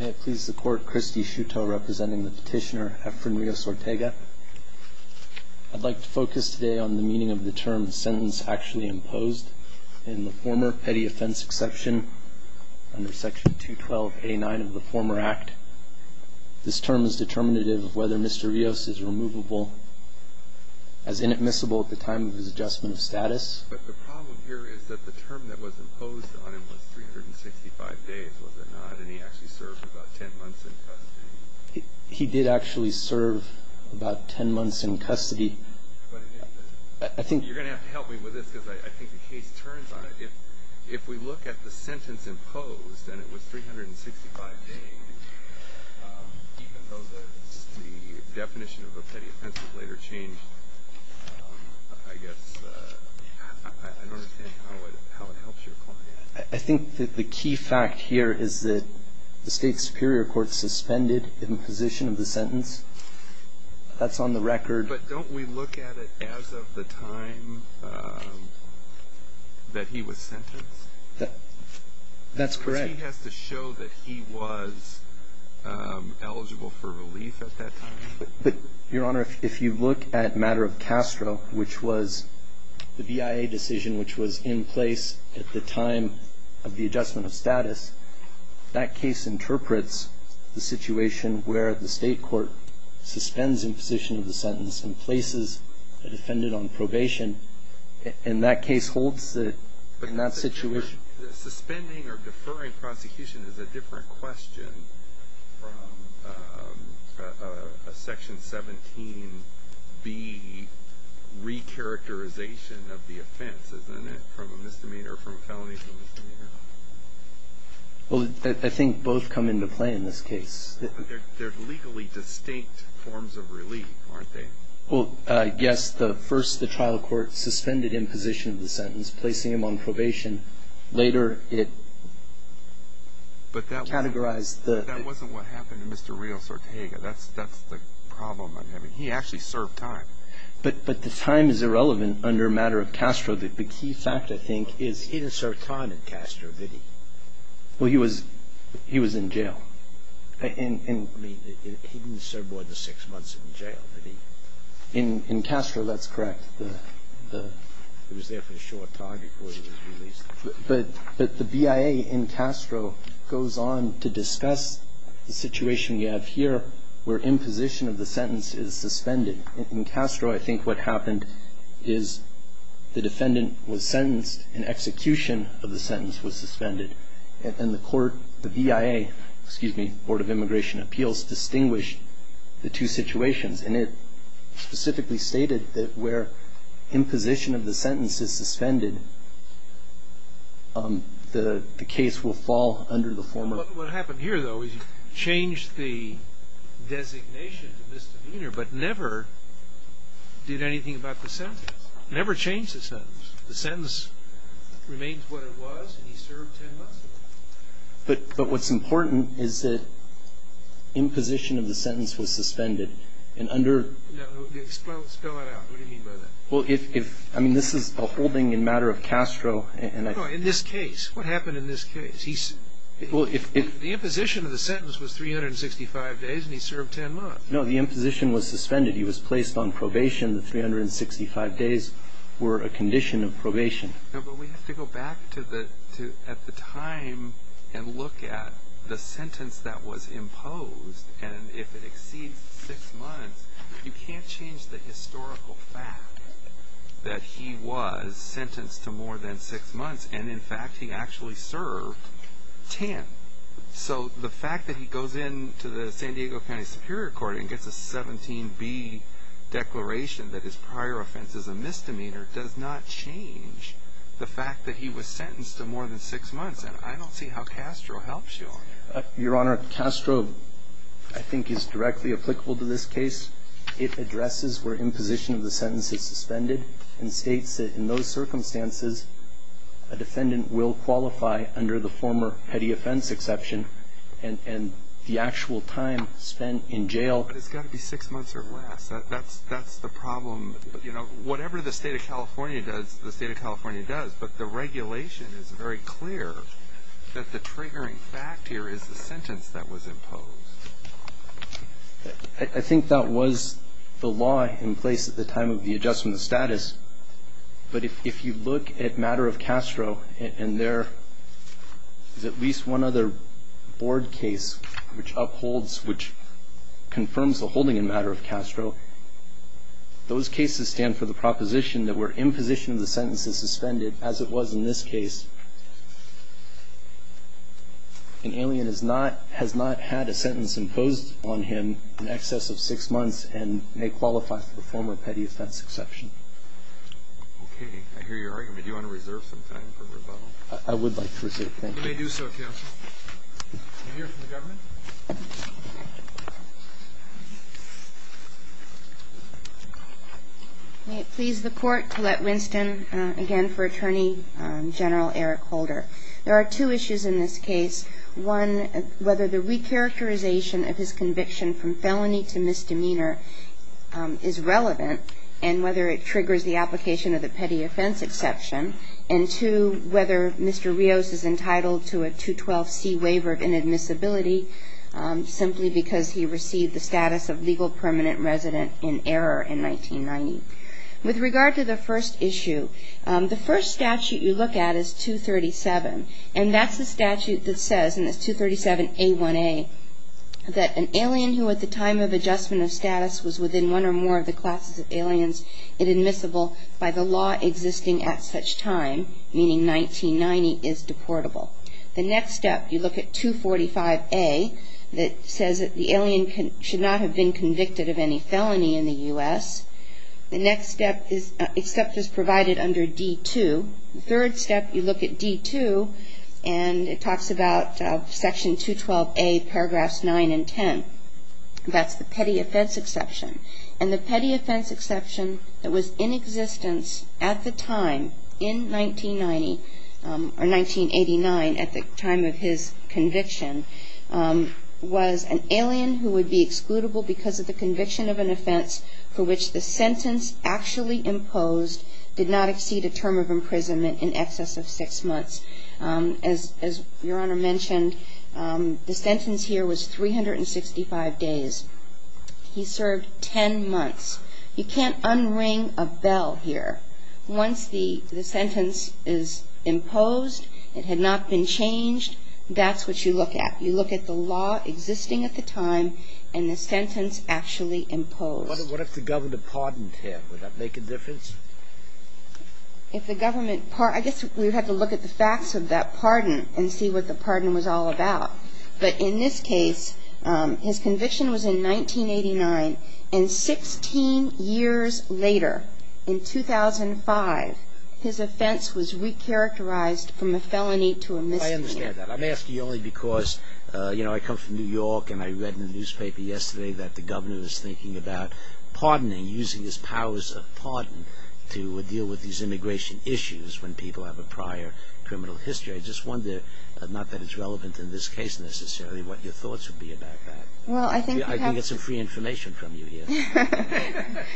May it please the Court, Christy Shuto representing the petitioner Efren Rios-Ortega. I'd like to focus today on the meaning of the term sentence actually imposed in the former petty offense exception under Section 212.89 of the former Act. This term is determinative of whether Mr. Rios is removable as inadmissible at the time of his adjustment of status. But the problem here is that the term that was imposed on him was 365 days, was it not? And he actually served about 10 months in custody. He did actually serve about 10 months in custody. I think you're going to have to help me with this because I think the case turns on it. If we look at the sentence imposed and it was 365 days, even though the definition of a petty offense would later change, I guess I don't understand how it helps your client. I think that the key fact here is that the State Superior Court suspended imposition of the sentence. That's on the record. But don't we look at it as of the time that he was sentenced? That's correct. Because he has to show that he was eligible for relief at that time. But, Your Honor, if you look at matter of Castro, which was the BIA decision which was in place at the time of the adjustment of status, that case interprets the situation where the State Court suspends imposition of the sentence and places a defendant on probation. And that case holds it in that situation. Suspending or deferring prosecution is a different question from a Section 17B re-characterization of the offense, isn't it, from a misdemeanor or from a felony for a misdemeanor? Well, I think both come into play in this case. But they're legally distinct forms of relief, aren't they? Well, yes. First, the trial court suspended imposition of the sentence, placing him on probation. Later, it categorized the… But that wasn't what happened to Mr. Rios Ortega. That's the problem I'm having. He actually served time. But the time is irrelevant under matter of Castro. The key fact, I think, is… He didn't serve time in Castro, did he? Well, he was in jail. I mean, he didn't serve more than six months in jail, did he? In Castro, that's correct. He was there for a short time before he was released. But the BIA in Castro goes on to discuss the situation we have here where imposition of the sentence is suspended. In Castro, I think what happened is the defendant was sentenced and execution of the sentence was suspended. And the court, the BIA, excuse me, Board of Immigration Appeals, distinguished the two situations. And it specifically stated that where imposition of the sentence is suspended, the case will fall under the former… What happened here, though, is you changed the designation to misdemeanor, but never did anything about the sentence. Never changed the sentence. The sentence remains what it was, and he served 10 months in jail. But what's important is that imposition of the sentence was suspended. And under… No, no. Spell it out. What do you mean by that? Well, if… I mean, this is a holding in matter of Castro, and… No, in this case. What happened in this case? He… Well, if… The imposition of the sentence was 365 days, and he served 10 months. No, the imposition was suspended. He was placed on probation. The 365 days were a condition of probation. No, but we have to go back to the… at the time and look at the sentence that was imposed. And if it exceeds six months, you can't change the historical fact that he was sentenced to more than six months. And, in fact, he actually served 10. So the fact that he goes into the San Diego County Superior Court and gets a 17B declaration that his prior offense is a misdemeanor does not change the fact that he was sentenced to more than six months. And I don't see how Castro helps you on that. Your Honor, Castro, I think, is directly applicable to this case. It addresses where imposition of the sentence is suspended and states that, in those circumstances, a defendant will qualify under the former petty offense exception and the actual time spent in jail. But it's got to be six months or less. That's the problem. You know, whatever the State of California does, the State of California does. But the regulation is very clear that the triggering fact here is the sentence that was imposed. I think that was the law in place at the time of the adjustment of status. But if you look at matter of Castro and there is at least one other board case which upholds, which confirms the holding in matter of Castro, those cases stand for the proposition that where imposition of the sentence is suspended, as it was in this case, an alien has not had a sentence imposed on him in excess of six months and may qualify for the former petty offense exception. Okay. I hear your argument. Do you want to reserve some time for rebuttal? I would like to reserve time. Did you hear from the government? May it please the Court to let Winston again for Attorney General Eric Holder. There are two issues in this case. One, whether the recharacterization of his conviction from felony to misdemeanor is relevant and whether it triggers the application of the petty offense exception. And two, whether Mr. Rios is entitled to a 212C waiver of inadmissibility simply because he received the status of legal permanent resident in error in 1990. With regard to the first issue, the first statute you look at is 237, and that's the statute that says in this 237A1A that an alien who at the time of adjustment of status was within one or more of the classes of aliens inadmissible by the law existing at such time, meaning 1990, is deportable. The next step, you look at 245A that says that the alien should not have been convicted of any felony in the U.S. The next step is provided under D2. The third step, you look at D2, and it talks about Section 212A, paragraphs 9 and 10. That's the petty offense exception. And the petty offense exception that was in existence at the time in 1990, or 1989, at the time of his conviction, was an alien who would be excludable because of the conviction of an offense for which the sentence actually imposed did not exceed a term of imprisonment in excess of six months. As Your Honor mentioned, the sentence here was 365 days. He served 10 months. You can't unring a bell here. Once the sentence is imposed, it had not been changed, that's what you look at. You look at the law existing at the time and the sentence actually imposed. What if the governor pardoned him? Would that make a difference? If the government pardoned him, I guess we would have to look at the facts of that pardon and see what the pardon was all about. But in this case, his conviction was in 1989, and 16 years later, in 2005, his offense was recharacterized from a felony to a misdemeanor. I understand that. I'm asking you only because, you know, I come from New York, and I read in the newspaper yesterday that the governor was thinking about pardoning, using his powers of pardon to deal with these immigration issues when people have a prior criminal history. I just wonder, not that it's relevant in this case necessarily, what your thoughts would be about that. I can get some free information from you here.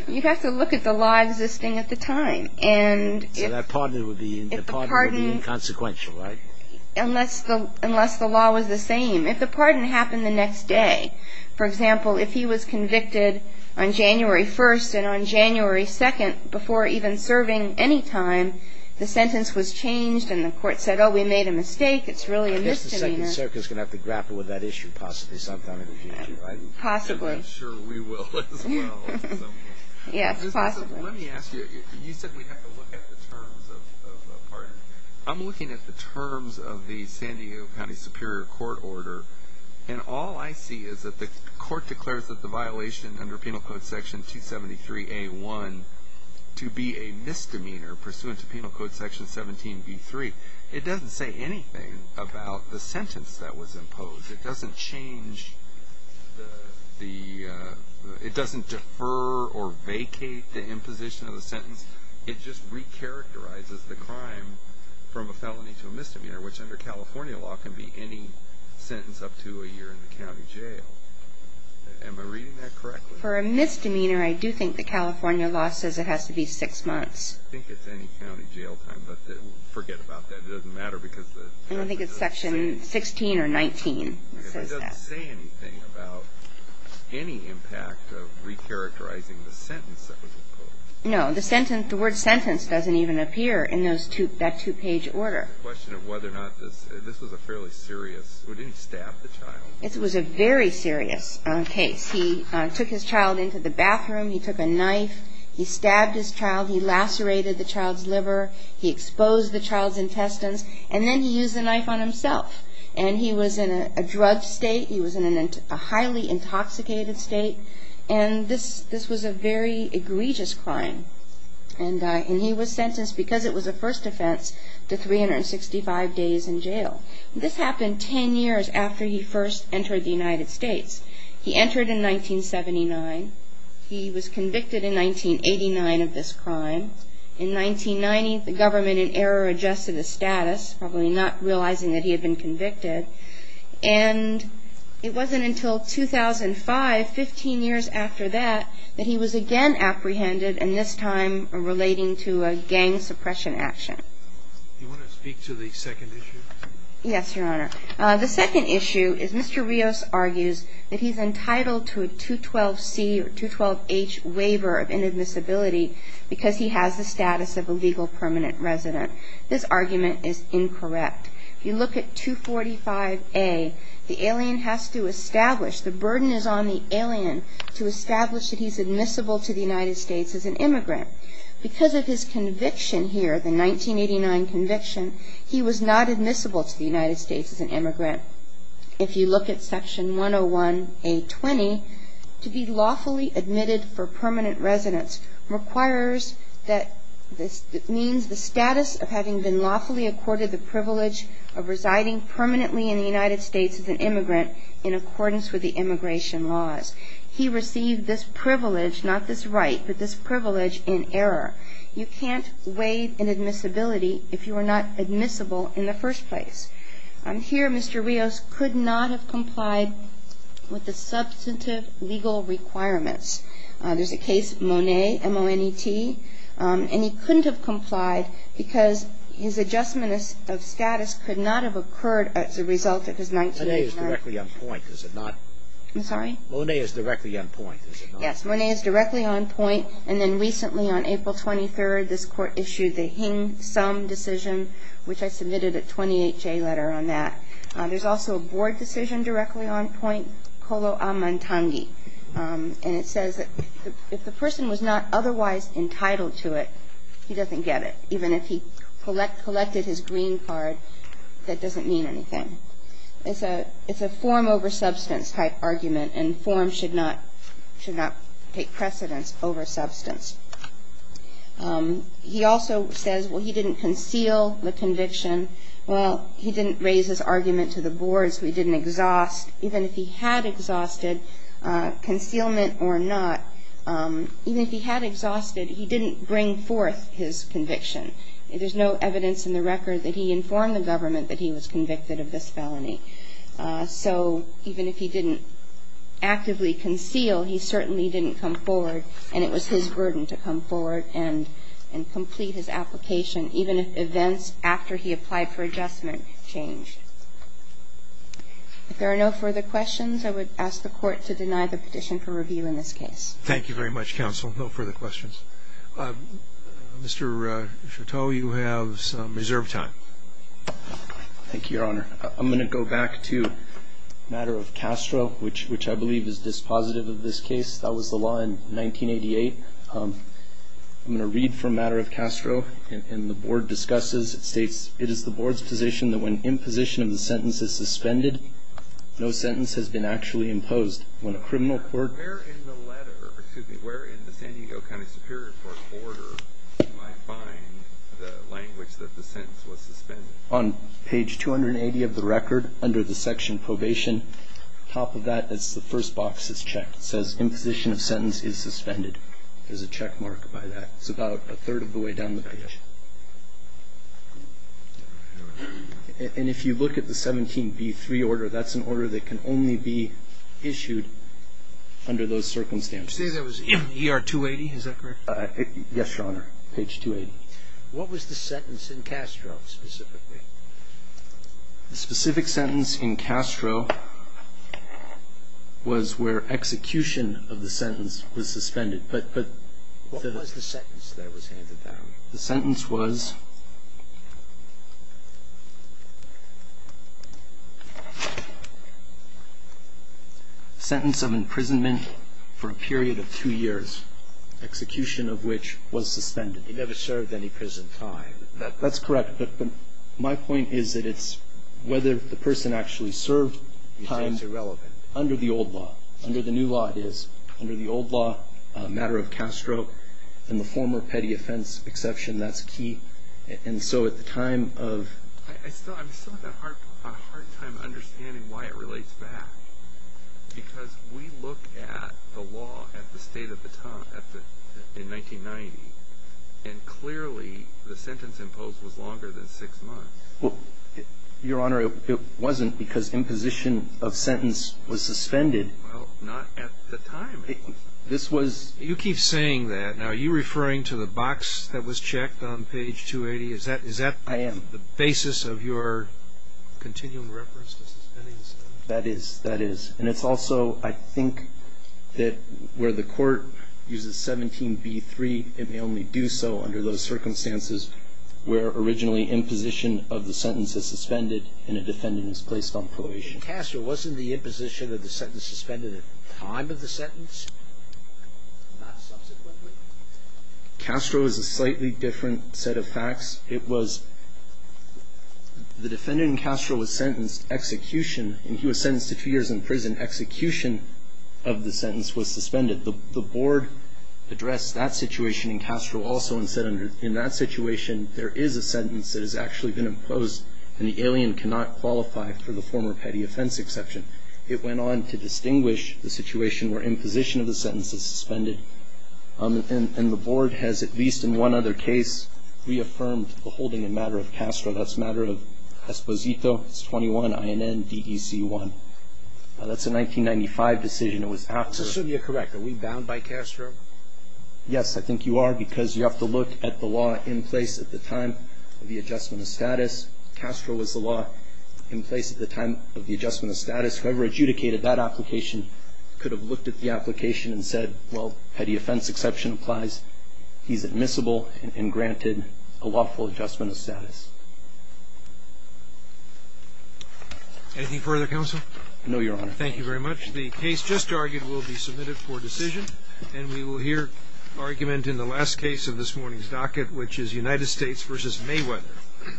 You have to look at the law existing at the time. So that pardon would be inconsequential, right? Unless the law was the same. If the pardon happened the next day, for example, if he was convicted on January 1st and on January 2nd before even serving any time, the sentence was changed, and the court said, oh, we made a mistake, it's really a misdemeanor. I guess the Second Circuit is going to have to grapple with that issue possibly sometime in the future. Possibly. I'm sure we will as well. Yes, possibly. Let me ask you, you said we have to look at the terms of a pardon. I'm looking at the terms of the San Diego County Superior Court order, and all I see is that the court declares that the violation under Penal Code Section 273A.1 to be a misdemeanor pursuant to Penal Code Section 17B.3. It doesn't say anything about the sentence that was imposed. It doesn't change the, it doesn't defer or vacate the imposition of the sentence. It just recharacterizes the crime from a felony to a misdemeanor, which under California law can be any sentence up to a year in the county jail. Am I reading that correctly? For a misdemeanor, I do think the California law says it has to be six months. I think it's any county jail time, but forget about that. It doesn't matter because the county does the same. I think it's Section 16 or 19 that says that. Okay, but it doesn't say anything about any impact of recharacterizing the sentence that was imposed. No, the sentence, the word sentence doesn't even appear in that two-page order. The question of whether or not this was a fairly serious, it didn't stab the child. It was a very serious case. He took his child into the bathroom. He took a knife. He stabbed his child. He lacerated the child's liver. He exposed the child's intestines. And then he used the knife on himself. And he was in a drug state. He was in a highly intoxicated state. And this was a very egregious crime. And he was sentenced, because it was a first offense, to 365 days in jail. This happened ten years after he first entered the United States. He entered in 1979. He was convicted in 1989 of this crime. In 1990, the government, in error, adjusted his status, probably not realizing that he had been convicted. And it wasn't until 2005, 15 years after that, that he was again apprehended, and this time relating to a gang suppression action. Do you want to speak to the second issue? Yes, Your Honor. The second issue is Mr. Rios argues that he's entitled to a 212C or 212H waiver of inadmissibility because he has the status of a legal permanent resident. This argument is incorrect. If you look at 245A, the alien has to establish, the burden is on the alien to establish that he's admissible to the United States as an immigrant. Because of his conviction here, the 1989 conviction, he was not admissible to the United States as an immigrant. If you look at Section 101A20, to be lawfully admitted for permanent residence requires that, means the status of having been lawfully accorded the privilege of residing permanently in the United States as an immigrant in accordance with the immigration laws. He received this privilege, not this right, but this privilege in error. You can't waive inadmissibility if you are not admissible in the first place. Here, Mr. Rios could not have complied with the substantive legal requirements. There's a case, Mone, M-O-N-E-T, and he couldn't have complied because his adjustment of status could not have occurred as a result of his 1989. Mone is directly on point, is it not? I'm sorry? Mone is directly on point, is it not? Yes, Mone is directly on point, and then recently on April 23rd, this Court issued the Hing Sum decision, which I submitted a 28-J letter on that. There's also a board decision directly on point, Kolo Amantangi. And it says that if the person was not otherwise entitled to it, he doesn't get it, even if he collected his green card, that doesn't mean anything. It's a form over substance type argument, and form should not take precedence over substance. He also says, well, he didn't conceal the conviction, well, he didn't raise his argument to the boards, we didn't exhaust. Even if he had exhausted, concealment or not, even if he had exhausted, he didn't bring forth his conviction. There's no evidence in the record that he informed the government that he was convicted of this felony. So even if he didn't actively conceal, he certainly didn't come forward, and it was his burden. So I would ask the Court to deny the petition for review in this case. Thank you very much, counsel. No further questions. Mr. Chouteau, you have some reserve time. Thank you, Your Honor. I'm going to go back to the matter of Castro, which I believe is dispositive of this case. That was the law in 1988. I'm going to read from the matter of Castro, and the Board discusses. It states, it is the Board's position that when imposition of the sentence is suspended, no sentence has been actually imposed. When a criminal court... Where in the letter, excuse me, where in the San Diego County Superior Court order do I find the language that the sentence was suspended? On page 280 of the record, under the section probation, top of that is the first box is checked. It says, imposition of sentence is suspended. There's a checkmark by that. It's about a third of the way down the page. And if you look at the 17B3 order, that's an order that can only be issued under those circumstances. You say that was ER 280, is that correct? Yes, Your Honor, page 280. What was the sentence in Castro specifically? The specific sentence in Castro was where execution of the sentence was suspended. But... What was the sentence that was handed down? The sentence was... ...sentence of imprisonment for a period of two years, execution of which was suspended. He never served any prison time. That's correct. But my point is that it's whether the person actually served time under the old law. Under the new law it is. Under the old law, matter of Castro, and the former petty offense exception, that's key. And so at the time of... I'm still having a hard time understanding why it relates back. Because we look at the law at the state of the town in 1990, and clearly the sentence imposed was longer than six months. Well, Your Honor, it wasn't because imposition of sentence was suspended. Well, not at the time. This was... You keep saying that. Now, are you referring to the box that was checked on page 280? Is that... I am. ...the basis of your continuing reference to suspending sentences? That is. That is. And it's also, I think, that where the Court uses 17b-3, it may only do so under those circumstances where originally imposition of the sentence is suspended and a defendant is placed on probation. But Castro, wasn't the imposition of the sentence suspended at the time of the sentence, not subsequently? Castro is a slightly different set of facts. It was... The defendant in Castro was sentenced, execution, and he was sentenced to two years in prison. Execution of the sentence was suspended. The Board addressed that situation in Castro also and said in that situation, there is a sentence that has actually been imposed and the alien cannot qualify for the former petty offense exception. It went on to distinguish the situation where imposition of the sentence is suspended. And the Board has, at least in one other case, reaffirmed the holding in matter of Castro. That's matter of Esposito. It's 21 INN DEC 1. That's a 1995 decision. It was after... So, sir, you're correct. Are we bound by Castro? Yes, I think you are because you have to look at the law in place at the time of the adjustment of status. Castro was the law in place at the time of the adjustment of status. Whoever adjudicated that application could have looked at the application and said, well, petty offense exception applies. He's admissible and granted a lawful adjustment of status. Anything further, Counsel? No, Your Honor. Thank you very much. The case just argued will be submitted for decision, and we will hear argument in the last case of this morning's docket, which is United States v. Mayweather.